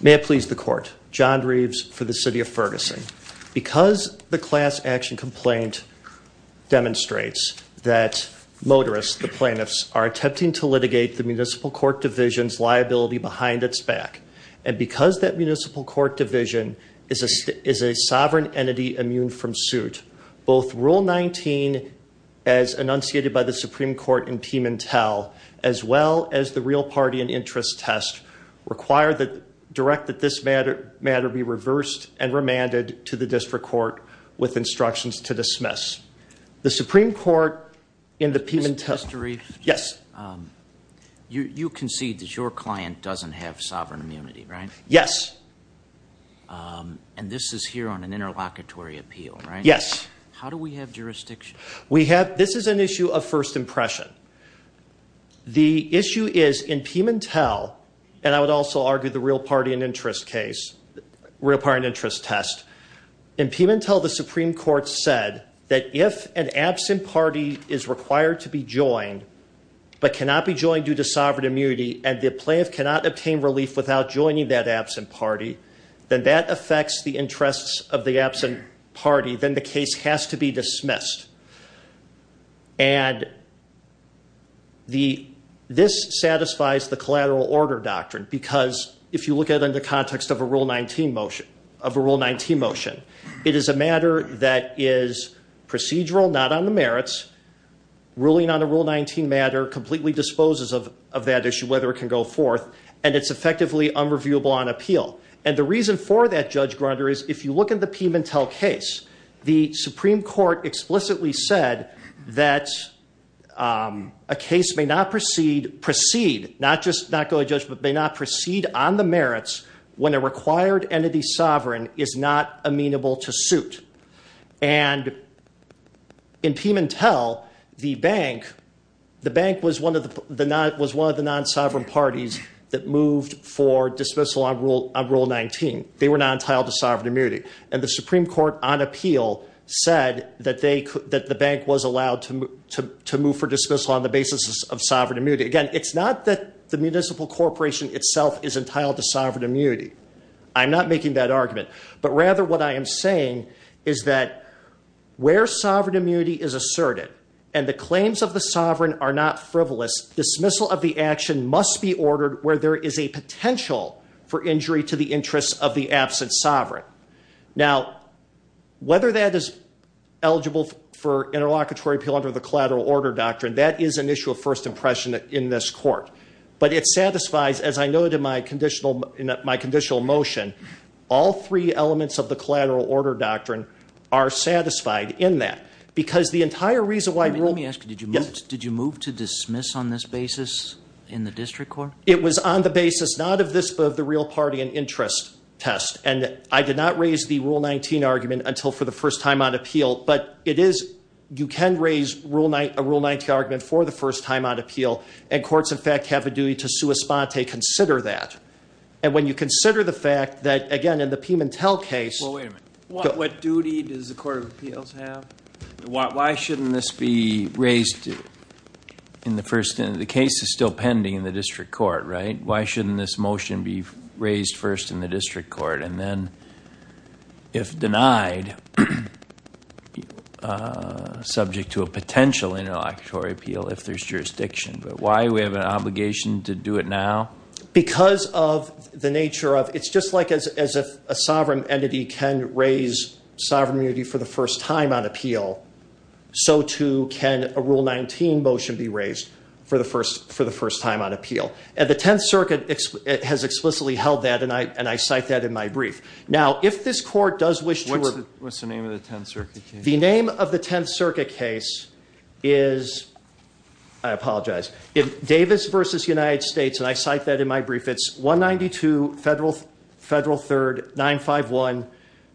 May I please the Court, John Reeves for the City of Ferguson. Because the class action complaint demonstrates that motorists, the plaintiffs, are attempting to litigate the Municipal Court Division's liability behind its back, and because that is a sovereign entity immune from suit, both Rule 19, as enunciated by the Supreme Court in Piemontel, as well as the Real Party and Interest Test, direct that this matter be reversed and remanded to the District Court with instructions to dismiss. The Supreme Court in the Piemontel- Mr. Reeves? Yes. You concede that your client doesn't have sovereign immunity, right? Yes. And this is here on an interlocutory appeal, right? Yes. How do we have jurisdiction? We have- this is an issue of first impression. The issue is in Piemontel, and I would also argue the Real Party and Interest Case, Real Party and Interest Test, in Piemontel the Supreme Court said that if an absent party is required to be joined, but cannot be joined due to sovereign immunity, and the plaintiff cannot obtain relief without joining that absent party, then that affects the interests of the absent party, then the case has to be dismissed. And this satisfies the collateral order doctrine, because if you look at it in the context of a Rule 19 motion, it is a matter that is procedural, not on the merits. Ruling on a Rule 19 matter completely disposes of that issue, whether it can go forth, and it's effectively unreviewable on appeal. And the reason for that, Judge Grunder, is if you look at the Piemontel case, the Supreme Court explicitly said that a case may not proceed, not just not go to judgment, may not proceed on the merits when a required entity sovereign is not amenable to suit. And in Piemontel, the bank was one of the non-sovereign parties that moved for dismissal on Rule 19. They were not entitled to sovereign immunity. And the Supreme Court, on appeal, said that the bank was allowed to move for dismissal on the basis of sovereign immunity. Again, it's not that the municipal corporation itself is entitled to sovereign immunity. I'm not making that argument. But rather, what I am saying is that where sovereign immunity is asserted, and the claims of the sovereign are not frivolous, dismissal of the action must be ordered where there is a potential for injury to the interests of the absent sovereign. Now, whether that is eligible for interlocutory appeal under the collateral order doctrine, that is an issue of first impression in this court. But it satisfies, as I noted in my conditional motion, all three elements of the collateral order doctrine are satisfied in that. Because the entire reason why Rule 19... Let me ask you, did you move to dismiss on this basis in the district court? It was on the basis not of this, but of the real party and interest test. And I did not raise the Rule 19 argument until for the first time on appeal. But it is, you can raise a Rule 19 argument for the first time on appeal. And courts, in fact, have a duty to sua sponte, consider that. And when you consider the fact that, again, in the Pimentel case... Well, wait a minute. What duty does the court of appeals have? Why shouldn't this be raised in the first... The case is still pending in the district court, right? Why shouldn't this motion be raised first in the district court? And then, if denied, subject to a potential interlocutory appeal if there's jurisdiction. But why do we have an obligation to do it now? Because of the nature of... It's just like as a sovereign entity can raise sovereign immunity for the first time on appeal, so too can a Rule 19 motion be raised for the first time on appeal. And the 10th Circuit has explicitly held that, and I cite that in my brief. Now, if this court does wish to... What's the name of the 10th Circuit case? The name of the 10th Circuit case is... I apologize. If Davis versus United States, and I cite that in my brief, it's 192 Federal 3rd 951,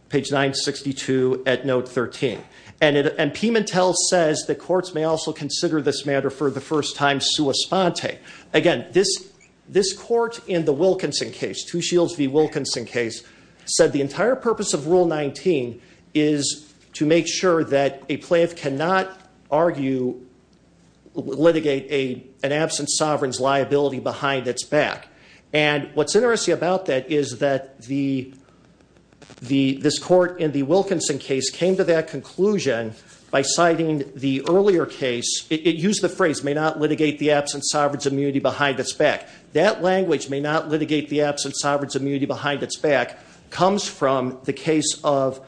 page 962 at note 13. And Pimentel says that courts may also consider this matter for the first time sua sponte. Again, this court in the Wilkinson case, Two Shields v. Wilkinson case, said the entire purpose of Rule 19 is to make sure that a plaintiff cannot argue, litigate an absent sovereign's liability behind its back. And what's interesting about that is that this court in the Wilkinson case came to that conclusion by citing the earlier case, it used the phrase, may not litigate the absent sovereign's immunity behind its back. That language, may not litigate the absent sovereign's immunity behind its back, comes from the case of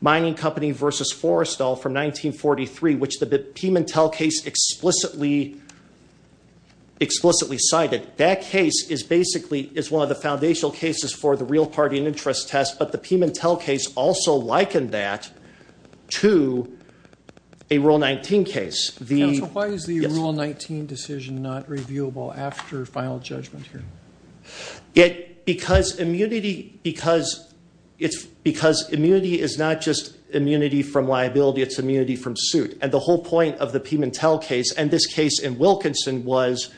Mining Company versus Forrestal from 1943, which the Pimentel case explicitly cited. That case is basically, is one of the foundational cases for the real party and interest test, but the Pimentel case also likened that to a Rule 19 case. The- Counsel, why is the Rule 19 decision not reviewable after final judgment here? It, because immunity, because it's, because immunity is not just immunity from liability, it's immunity from suit. And the whole point of the Pimentel case and this case in Wilkinson was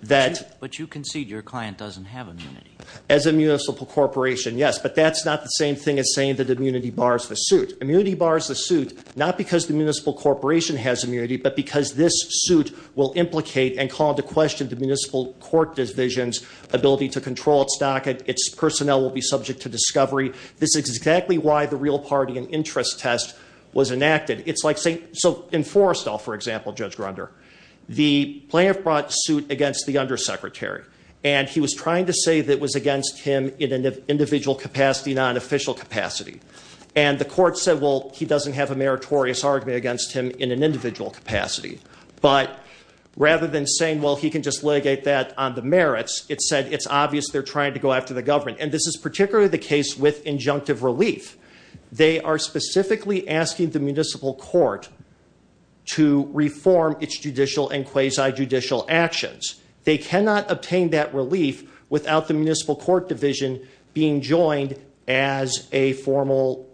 that- But you concede your client doesn't have immunity. As a municipal corporation, yes, but that's not the same thing as saying that immunity bars the suit. Immunity bars the suit, not because the municipal corporation has immunity, but because this suit will implicate and call into question the municipal court division's ability to control its stock and its personnel will be subject to discovery. This is exactly why the real party and interest test was enacted. It's like saying, so in Forrestal, for example, Judge Grunder, the plaintiff brought suit against the undersecretary. And he was trying to say that it was against him in an individual capacity, not an official capacity. And the court said, well, he doesn't have a meritorious argument against him in an individual capacity. But rather than saying, well, he can just litigate that on the merits, it said it's obvious they're trying to go after the government. And this is particularly the case with injunctive relief. They are specifically asking the municipal court to reform its judicial and quasi-judicial actions. They cannot obtain that relief without the municipal court division being joined as a formal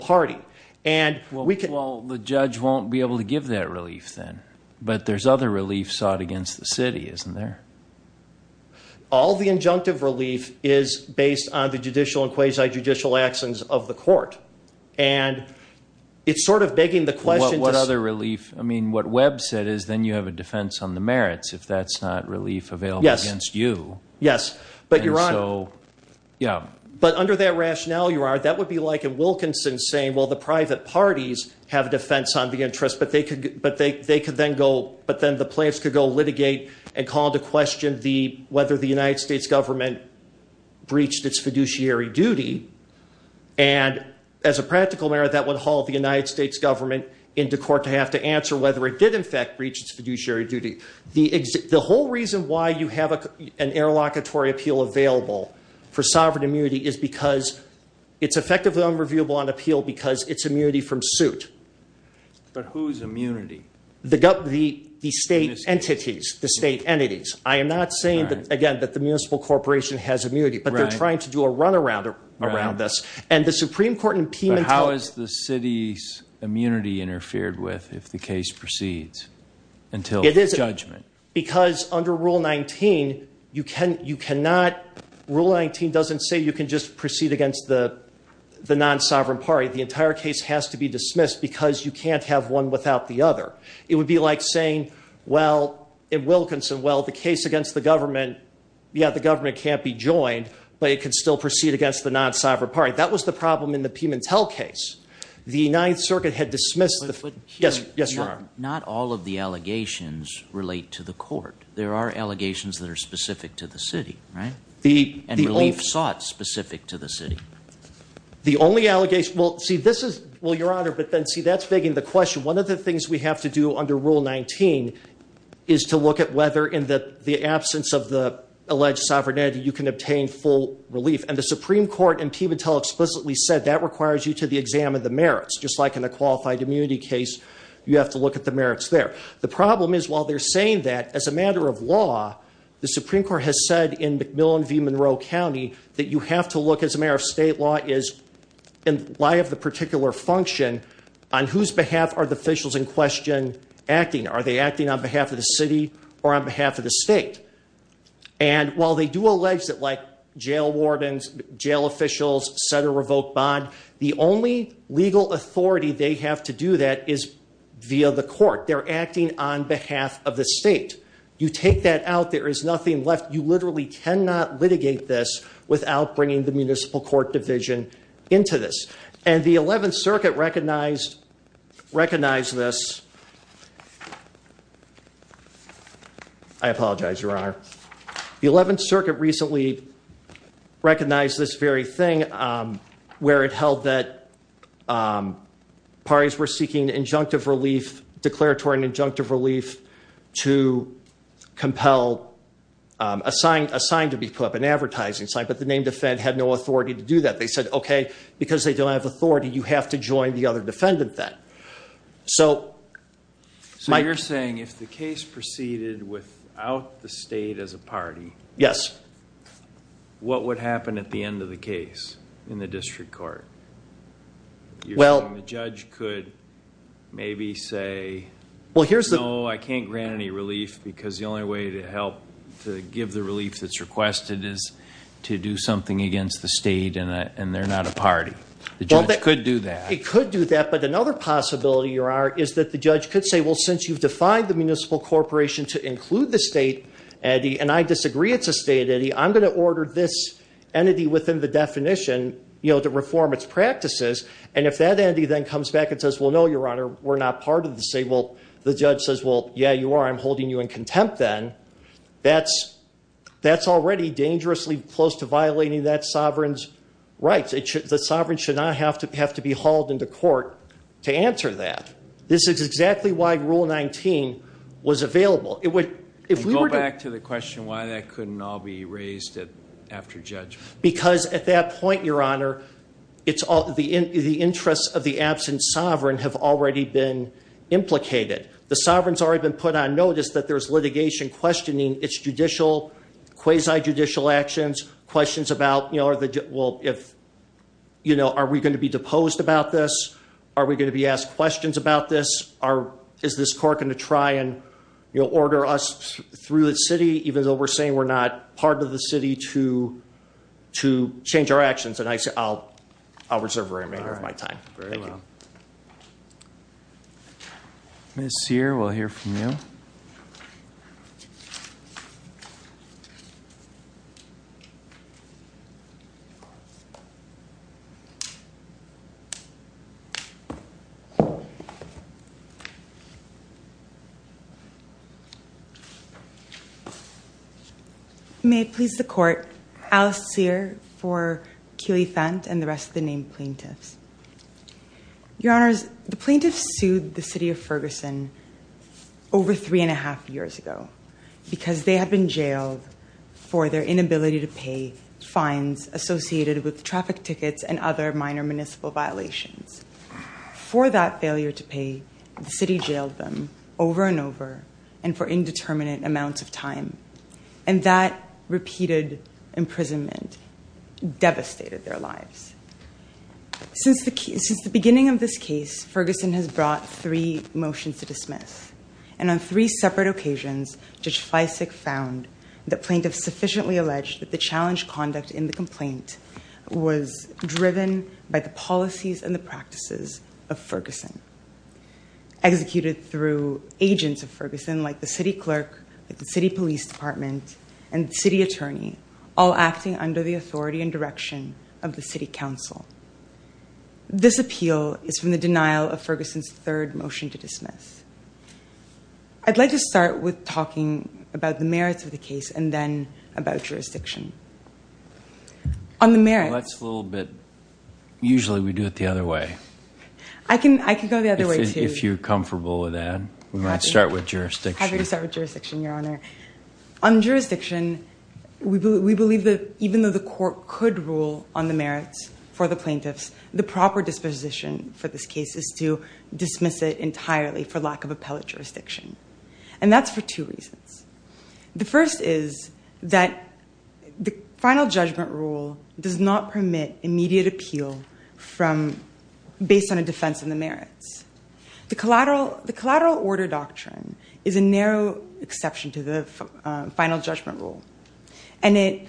party. And we can- Well, the judge won't be able to give that relief then. But there's other relief sought against the city, isn't there? All the injunctive relief is based on the judicial and quasi-judicial actions of the court. And it's sort of begging the question- What other relief? I mean, what Webb said is then you have a defense on the merits if that's not relief available against you. Yes. But your honor- Yeah. But under that rationale, your honor, that would be like a Wilkinson saying, well, the private parties have a defense on the interest. But they could then go- But then the plaintiffs could go litigate and call into question whether the United States government breached its fiduciary duty. And as a practical matter, that would haul the United States government into court to have to answer whether it did, in fact, breach its fiduciary duty. The whole reason why you have an interlocutory appeal available for sovereign immunity is because it's effectively unreviewable on appeal because it's immunity from suit. But whose immunity? The state entities. The state entities. I am not saying that, again, that the municipal corporation has immunity. But they're trying to do a runaround around this. And the Supreme Court in Piedmont- But how is the city's immunity interfered with if the case proceeds until judgment? Because under Rule 19, Rule 19 doesn't say you can just proceed against the non-sovereign party. The entire case has to be dismissed because you can't have one without the other. It would be like saying, well, in Wilkinson, well, the case against the government, yeah, the government can't be joined. But it can still proceed against the non-sovereign party. That was the problem in the Pimentel case. The Ninth Circuit had dismissed the foot- Yes, yes, Your Honor. Not all of the allegations relate to the court. There are allegations that are specific to the city, right? And relief sought specific to the city. The only allegation, well, see, this is, well, Your Honor, but then, see, that's begging the question. One of the things we have to do under Rule 19 is to look at whether, in the absence of the alleged sovereignty, you can obtain full relief. And the Supreme Court in Pimentel explicitly said that requires you to examine the merits, just like in a qualified immunity case, you have to look at the merits there. The problem is, while they're saying that, as a matter of law, the Supreme Court has said in McMillan v Monroe County, that you have to look, as a matter of state law, in light of the particular function, on whose behalf are the officials in question acting? Are they acting on behalf of the city or on behalf of the state? And while they do allege that, like, jail wardens, jail officials, set a revoked bond, the only legal authority they have to do that is via the court. They're acting on behalf of the state. You take that out, there is nothing left. You literally cannot litigate this without bringing the municipal court division into this. And the 11th Circuit recognized this. I apologize, Your Honor. The 11th Circuit recently recognized this very thing, where it held that parties were seeking declaratory and injunctive relief to compel a sign to be put up, an advertising sign, but the named offend had no authority to do that. They said, okay, because they don't have authority, you have to join the other defendant then. So you're saying if the case proceeded without the state as a party. Yes. What would happen at the end of the case in the district court? Well. The judge could maybe say, no, I can't grant any relief, because the only way to help to give the relief that's requested is to do something against the state and they're not a party. The judge could do that. He could do that, but another possibility, Your Honor, is that the judge could say, well, since you've defined the municipal corporation to include the state, Eddie, and I disagree it's a state, Eddie, I'm going to order this entity within the definition to reform its practices. And if that entity then comes back and says, well, no, Your Honor, we're not part of the state. Well, the judge says, well, yeah, you are. I'm holding you in contempt then. That's already dangerously close to violating that sovereign's rights. The sovereign should not have to be hauled into court to answer that. This is exactly why Rule 19 was available. It would, if we were to- Go back to the question why that couldn't all be raised after judgment. Because at that point, Your Honor, the interests of the absent sovereign have already been implicated. The sovereign's already been put on notice that there's litigation questioning its quasi-judicial actions. Questions about, well, are we going to be deposed about this? Are we going to be asked questions about this? Is this court going to try and order us through the city, even though we're saying we're not part of the city, to change our actions? And I'll reserve the remainder of my time. Thank you. Ms. Sear, we'll hear from you. May it please the court, Alice Sear for Keely-Fent and the rest of the named plaintiffs. Your Honors, the plaintiffs sued the city of Ferguson over three and a half years ago. Because they had been jailed for their inability to pay fines associated with traffic tickets and other minor municipal violations. For that failure to pay, the city jailed them over and over and for indeterminate amounts of time. And that repeated imprisonment devastated their lives. Since the beginning of this case, Ferguson has brought three motions to dismiss. And on three separate occasions, Judge Fleisig found that plaintiffs sufficiently alleged that the challenge conduct in the complaint was driven by the policies and the practices of Ferguson. Executed through agents of Ferguson, like the city clerk, the city police department, and city attorney, all acting under the authority and direction of the city council. This appeal is from the denial of Ferguson's third motion to dismiss. I'd like to start with talking about the merits of the case, and then about jurisdiction. On the merits- That's a little bit, usually we do it the other way. I can go the other way, too. If you're comfortable with that. We might start with jurisdiction. Happy to start with jurisdiction, Your Honor. On jurisdiction, we believe that even though the court could rule on the merits for the plaintiffs, the proper disposition for this case is to dismiss it entirely for lack of appellate jurisdiction. And that's for two reasons. The first is that the final judgment rule does not permit immediate appeal based on a defense in the merits. The collateral order doctrine is a narrow exception to the final judgment rule. And it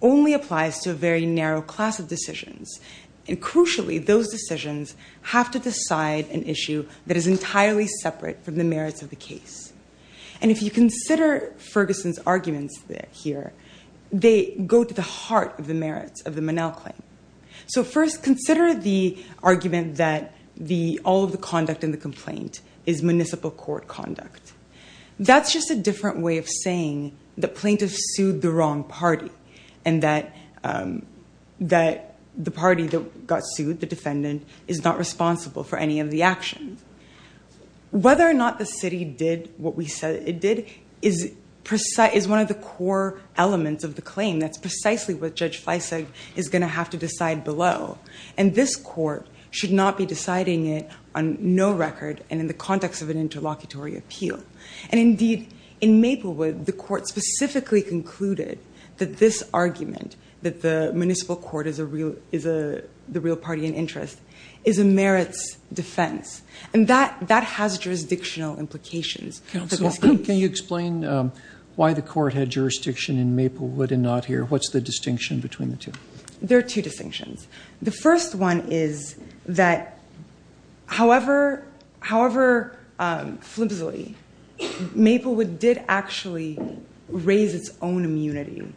only applies to a very narrow class of decisions. And crucially, those decisions have to decide an issue that is entirely separate from the merits of the case. And if you consider Ferguson's arguments here, they go to the heart of the merits of the Monell claim. So first, consider the argument that all of the conduct in the complaint is municipal court conduct. That's just a different way of saying the plaintiff sued the wrong party. And that the party that got sued, the defendant, is not responsible for any of the actions. Whether or not the city did what we said it did is one of the core elements of the claim. That's precisely what Judge Fleisig is going to have to decide below. And this court should not be deciding it on no record and in the context of an interlocutory appeal. And indeed, in Maplewood, the court specifically concluded that this argument, that the municipal court is the real party in interest, is a merits defense. And that has jurisdictional implications. Counsel, can you explain why the court had jurisdiction in Maplewood and not here? What's the distinction between the two? There are two distinctions. The first one is that, however flimsily, Maplewood did actually raise its own immunity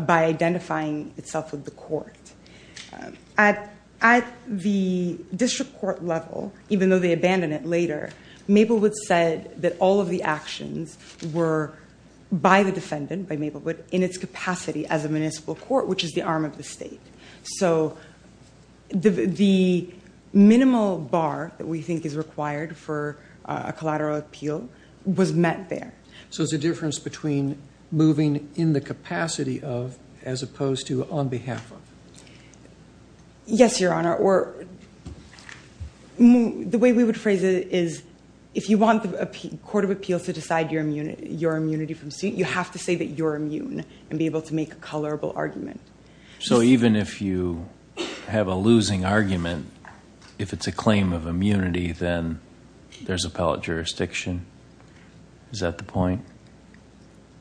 by identifying itself with the court. At the district court level, even though they abandoned it later, Maplewood said that all of the actions were by the defendant, by Maplewood, in its capacity as a municipal court, which is the arm of the state. So the minimal bar that we think is required for a collateral appeal was met there. So it's a difference between moving in the capacity of, as opposed to on behalf of. Yes, Your Honor. Or the way we would phrase it is, if you want the court of appeal to decide your immunity from suit, you have to say that you're immune and be able to make a colorable argument. So even if you have a losing argument, if it's a claim of immunity, then there's appellate jurisdiction? Is that the point?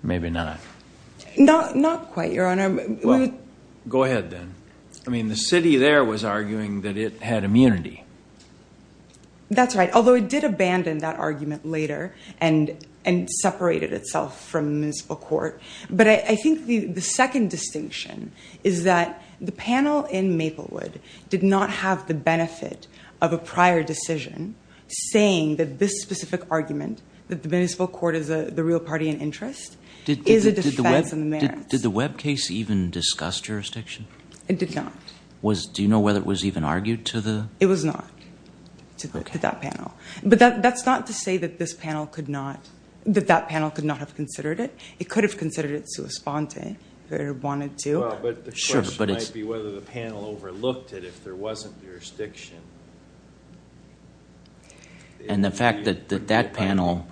Maybe not. Not quite, Your Honor. Well, go ahead then. I mean, the city there was arguing that it had immunity. That's right, although it did abandon that argument later and separated itself from the municipal court. But I think the second distinction is that the panel in Maplewood did not have the benefit of a prior decision saying that this specific argument, that the municipal court is the real party in interest, is a defense in the merits. Did the Webb case even discuss jurisdiction? It did not. Do you know whether it was even argued to the... It was not, to that panel. But that's not to say that this panel could not, that that panel could not have considered it. It could have considered it sua sponte, if it wanted to. Well, but the question might be whether the panel overlooked it if there wasn't jurisdiction. And the fact that that panel...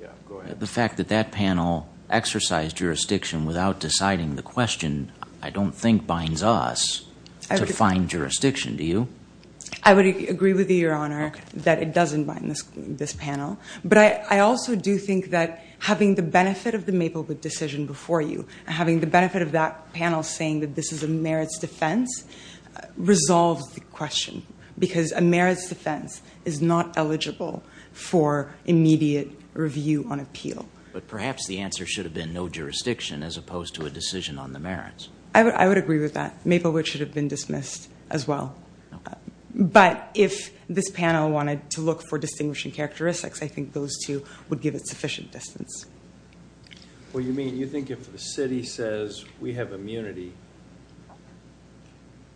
Yeah, go ahead. The fact that that panel exercised jurisdiction without deciding the question, I don't think binds us to find jurisdiction, do you? I would agree with you, Your Honor, that it doesn't bind this panel. But I also do think that having the benefit of the Maplewood decision before you, and having the benefit of that panel saying that this is a merits defense, resolves the question. Because a merits defense is not eligible for immediate review on appeal. But perhaps the answer should have been no jurisdiction as opposed to a decision on the merits. I would agree with that. Maplewood should have been dismissed as well. But if this panel wanted to look for distinguishing characteristics, I think those two would give it sufficient distance. What you mean? You think if the city says, we have immunity,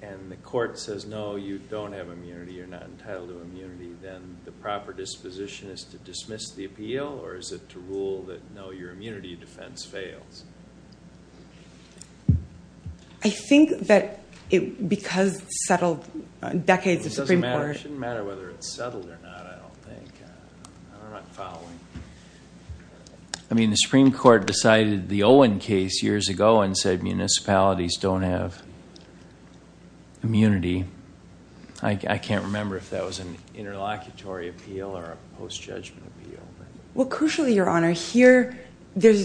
and the court says, no, you don't have immunity, you're not entitled to immunity, then the proper disposition is to dismiss the appeal, or is it to rule that, no, your immunity defense fails? I think that because settled decades of Supreme Court... It shouldn't matter whether it's settled or not, I don't think. I'm not following. I mean, the Supreme Court decided the Owen case years ago and said municipalities don't have immunity. I can't remember if that was an interlocutory appeal or a post-judgment appeal. Well, crucially, Your Honor, here, the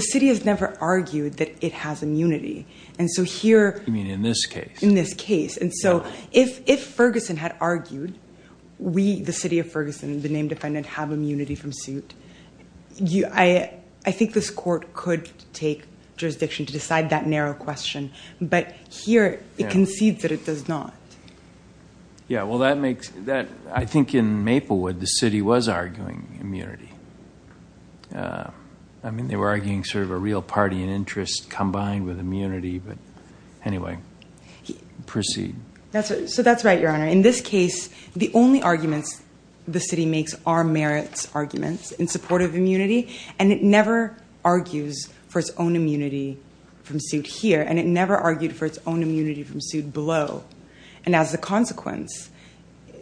city has never argued that it has immunity. And so here... You mean in this case? In this case. And so if Ferguson had argued, we, the city of Ferguson, the named defendant, have immunity from suit, I think this court could take jurisdiction to decide that narrow question. But here, it concedes that it does not. Yeah, well, that makes... I think in Maplewood, the city was arguing immunity. I mean, they were arguing sort of a real party and interest combined with immunity. But anyway, proceed. So that's right, Your Honor. In this case, the only arguments the city makes are merits arguments in support of immunity. And it never argues for its own immunity from suit here. And it never argued for its own immunity from suit below. And as a consequence,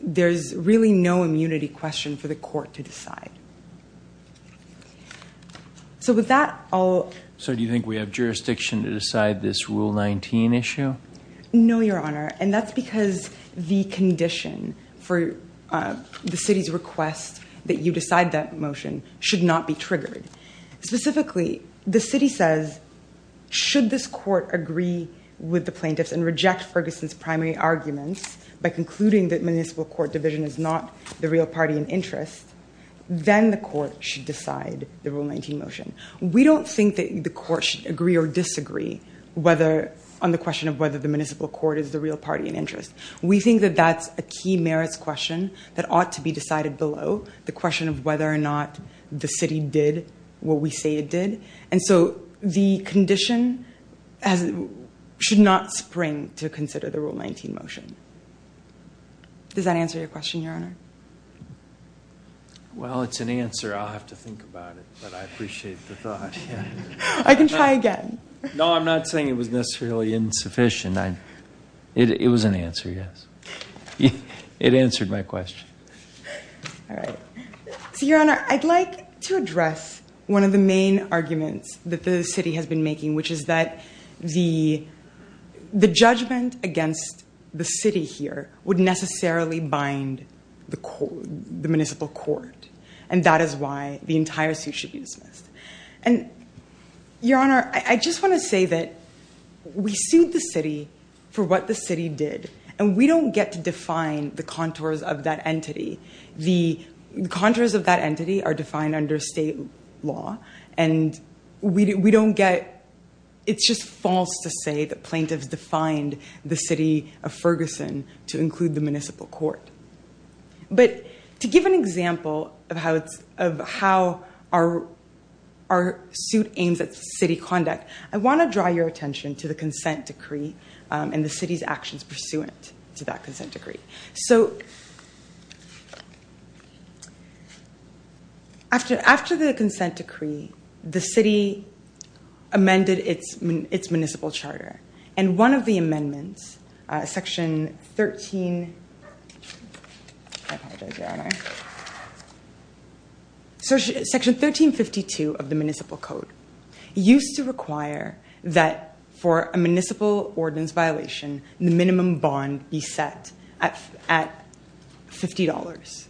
there's really no immunity question for the court to decide. So with that, I'll... So do you think we have jurisdiction to decide this Rule 19 issue? No, Your Honor. And that's because the condition for the city's request that you decide that motion should not be triggered. Specifically, the city says, should this court agree with the plaintiffs and reject Ferguson's primary arguments by concluding that municipal court division is not the real party and interest, then the court should decide the Rule 19 motion. We don't think that the court should agree or disagree on the question of whether the municipal court is the real party and interest. We think that that's a key merits question that ought to be decided below, the question of whether or not the city did what we say it did. And so the condition should not spring to consider the Rule 19 motion. Does that answer your question, Your Honor? Well, it's an answer. I'll have to think about it, but I appreciate the thought. I can try again. No, I'm not saying it was necessarily insufficient. It was an answer, yes. It answered my question. All right. So, Your Honor, I'd like to address one of the main arguments that the city has been making, which is that the judgment against the city here would necessarily bind the municipal court. And that is why the entire suit should be dismissed. And, Your Honor, I just want to say that we sued the city for what the city did, and we don't get to define the contours of that entity. The contours of that entity are defined under state law, and it's just false to say that plaintiffs defined the city of Ferguson to include the municipal court. But to give an example of how our suit aims at city conduct, I want to draw your attention to the consent decree and the city's actions pursuant to that consent decree. After the consent decree, the city amended its municipal charter, and one of the amendments, Section 1352 of the Municipal Code, used to require that for a municipal ordinance violation, the minimum bond be set at $50.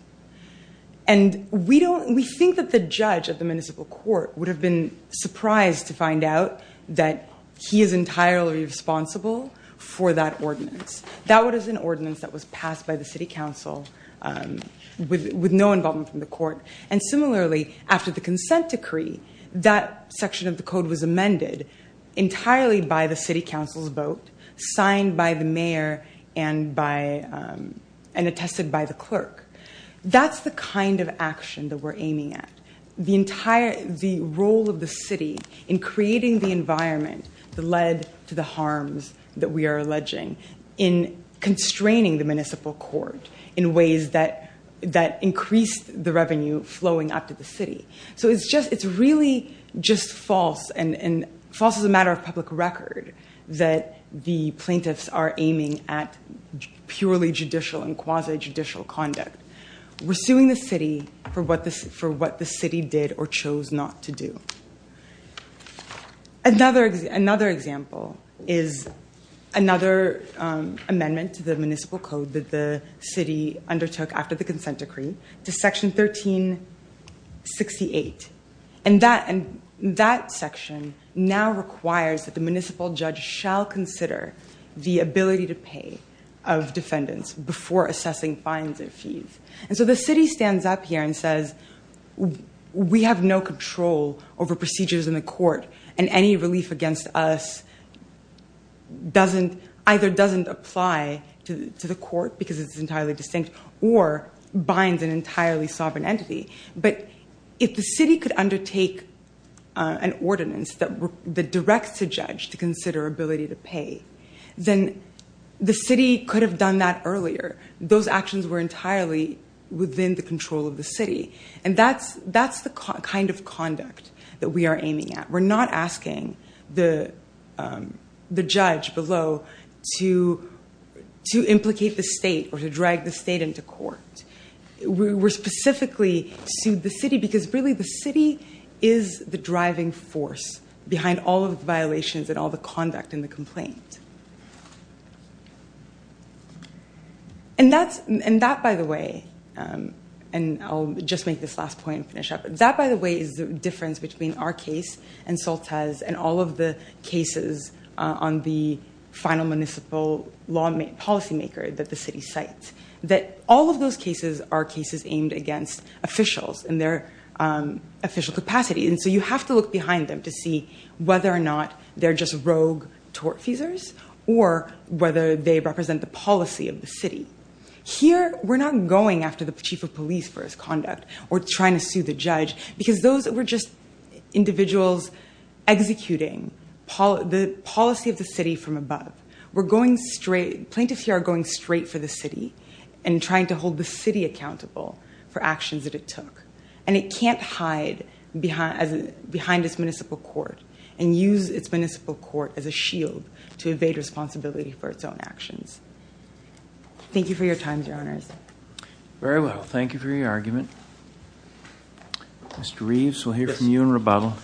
And we think that the judge of the municipal court would have been surprised to find out that he is entirely responsible for that ordinance. That was an ordinance that was passed by the city council with no involvement from the court. And similarly, after the consent decree, that section of the code was amended entirely by the city council's vote, signed by the mayor, and attested by the clerk. That's the kind of action that we're aiming at. The role of the city in creating the environment that led to the harms that we are alleging in constraining the municipal court in ways that increased the revenue flowing up to the city. So it's really just false, and false as a matter of public record, that the plaintiffs are aiming at purely judicial and quasi-judicial conduct. We're suing the city for what the city did or chose not to do. Another example is another amendment to the municipal code that the city undertook after the consent decree to Section 1368. And that section now requires that the municipal judge shall consider the ability to pay of defendants before assessing fines and fees. And so the city stands up here and says, we have no control over procedures in the court, and any relief against us either doesn't apply to the court because it's entirely distinct or binds an entirely sovereign entity. But if the city could undertake an ordinance that directs a judge to consider ability to pay, then the city could have done that earlier. Those actions were entirely within the control of the city. And that's the kind of conduct that we are aiming at. We're not asking the judge below to implicate the state or to drag the state into court. We're specifically suing the city because, really, the city is the driving force behind all of the violations and all the conduct in the complaint. And that, by the way, and I'll just make this last point and finish up, that, by the way, is the difference between our case and Soltes' and all of the cases on the final municipal law policymaker that the city cites, that all of those cases are cases aimed against officials in their official capacity. And so you have to look behind them to see whether or not they're just rogue tortfeasors or whether they represent the policy of the city. Here, we're not going after the chief of police for his conduct or trying to sue the judge because those were just individuals executing the policy of the city from above. Plaintiffs here are going straight for the city and trying to hold the city accountable for actions that it took. And it can't hide behind its municipal court and use its municipal court as a shield to evade responsibility for its own actions. Thank you for your time, Your Honors. Very well. Thank you for your argument. Mr. Reeves, we'll hear from you in rebuttal.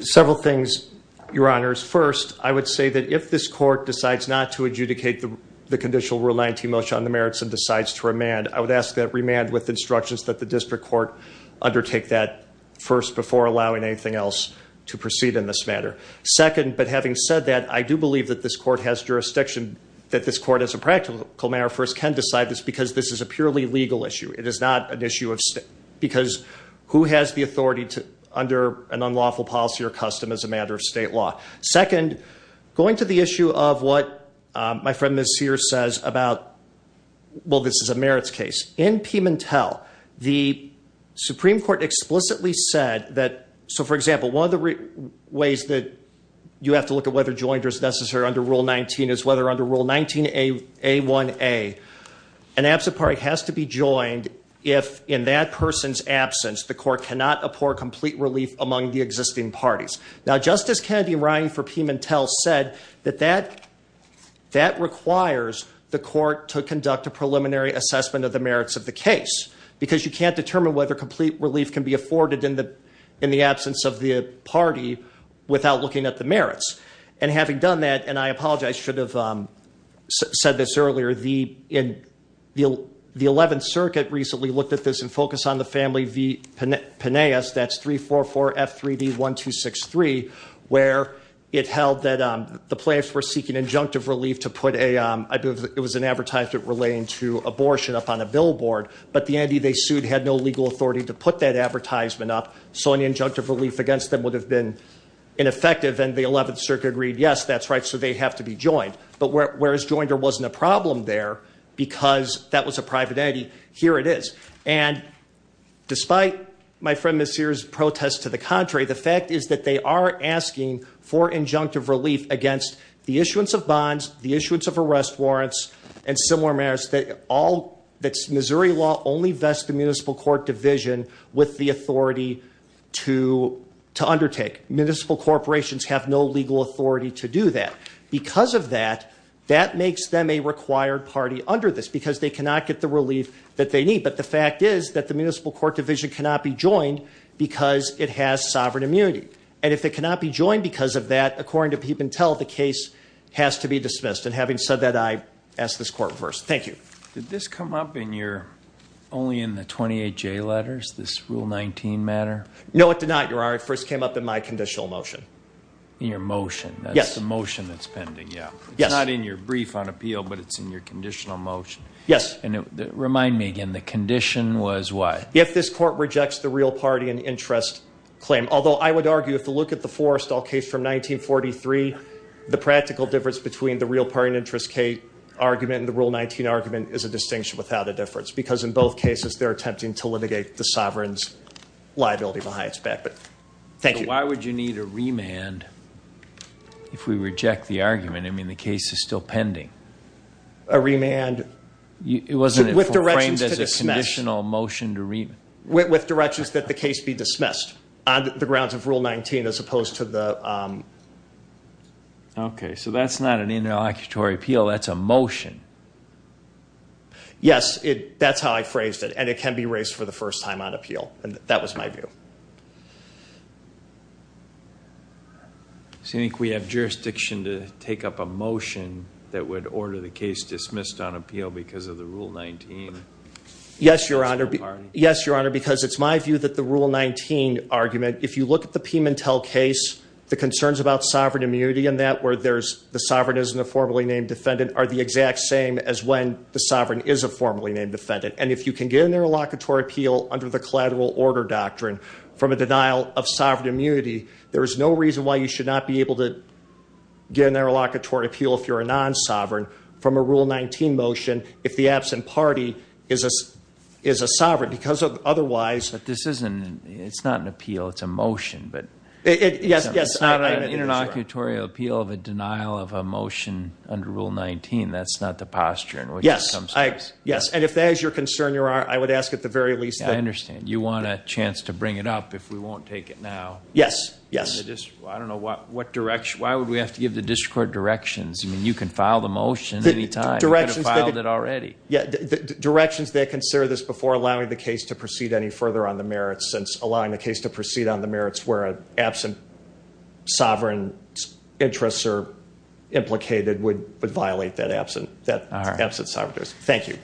Several things, Your Honors. First, I would say that if this court decides not to adjudicate the conditional Rule 19 motion on the merits and decides to remand, I would ask that it remand with instructions that the district court undertake that first before allowing anything else to proceed in this matter. Second, but having said that, I do believe that this court has jurisdiction, that this court as a practical matter first can decide this because this is a purely legal issue. It is not an issue of state because who has the authority under an unlawful policy or custom as a matter of state law. Second, going to the issue of what my friend Ms. Sears says about, well, this is a merits case. In Pimentel, the Supreme Court explicitly said that, so for example, one of the ways that you have to look at whether a joinder is necessary under Rule 19 is whether under Rule 19A1A, an absent party has to be joined if in that person's absence the court cannot apport complete relief among the existing parties. Now, Justice Kennedy writing for Pimentel said that that requires the court to conduct a preliminary assessment of the merits of the case because you can't determine whether complete relief can be afforded in the absence of the party without looking at the merits. And having done that, and I apologize, I should have said this earlier, the 11th Circuit recently looked at this and focused on the family v. Penaeus, that's 344F3D1263, where it held that the plaintiffs were seeking injunctive relief to put a, it was an advertisement relating to abortion up on a billboard, but the entity they sued had no legal authority to put that advertisement up, so an injunctive relief against them would have been ineffective. And the 11th Circuit agreed, yes, that's right, so they have to be joined. But whereas Joinder wasn't a problem there because that was a private entity, here it is. And despite my friend Ms. Sears' protest to the contrary, the fact is that they are asking for injunctive relief against the issuance of bonds, the issuance of arrest warrants, and similar matters that all, that Missouri law only vests the municipal court division with the authority to undertake. Municipal corporations have no legal authority to do that. Because of that, that makes them a required party under this because they cannot get the relief that they need. But the fact is that the municipal court division cannot be joined because it has sovereign immunity. And if it cannot be joined because of that, according to Peep and Tell, the case has to be dismissed. And having said that, I ask this court reverse. Thank you. Did this come up in your, only in the 28J letters, this Rule 19 matter? No, it did not, Your Honor. It first came up in my conditional motion. In your motion? That's the motion that's pending, yeah. Yes. It's not in your brief on appeal, but it's in your conditional motion. Yes. And remind me again, the condition was what? If this court rejects the real party and interest claim, although I would argue if you look at the Forrestall case from 1943, the practical difference between the real party and interest case argument and the Rule 19 argument is a distinction without a difference because in both cases they're attempting to litigate the sovereign's liability behind its back, but thank you. Why would you need a remand if we reject the argument? I mean, the case is still pending. A remand with directions to dismiss. It wasn't framed as a conditional motion to remand. With directions that the case be dismissed on the grounds of Rule 19 as opposed to the... Okay, so that's not an interlocutory appeal. That's a motion. Yes, that's how I phrased it, and it can be raised for the first time on appeal, and that was my view. So you think we have jurisdiction to take up a motion that would order the case dismissed on appeal because of the Rule 19? Yes, Your Honor, because it's my view that the Rule 19 argument, if you look at the Pimentel case, the concerns about sovereign immunity and that, where the sovereign isn't a formally named defendant, are the exact same as when the sovereign is a formally named defendant. And if you can get an interlocutory appeal under the collateral order doctrine from a denial of sovereign immunity, there is no reason why you should not be able to get an interlocutory appeal if you're a non-sovereign from a Rule 19 motion if the absent party is a sovereign, because otherwise... But this isn't... It's not an appeal. It's a motion, but... Yes, yes. It's not an interlocutory appeal of a denial of a motion under Rule 19. That's not the posture in which it comes to pass. Yes, and if that is your concern, Your Honor, I would ask at the very least that... Yes, yes. I don't know what direction... Why would we have to give the district court directions? I mean, you can file the motion any time. You could have filed it already. Directions that consider this before allowing the case to proceed any further on the merits, since allowing the case to proceed on the merits where an absent sovereign's interests are implicated would violate that absent sovereignty. All right. Thank you.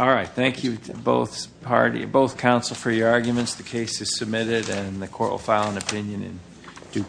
All right, thank you to both parties, both counsel, for your arguments. The case is submitted, and the court will file an opinion in due course.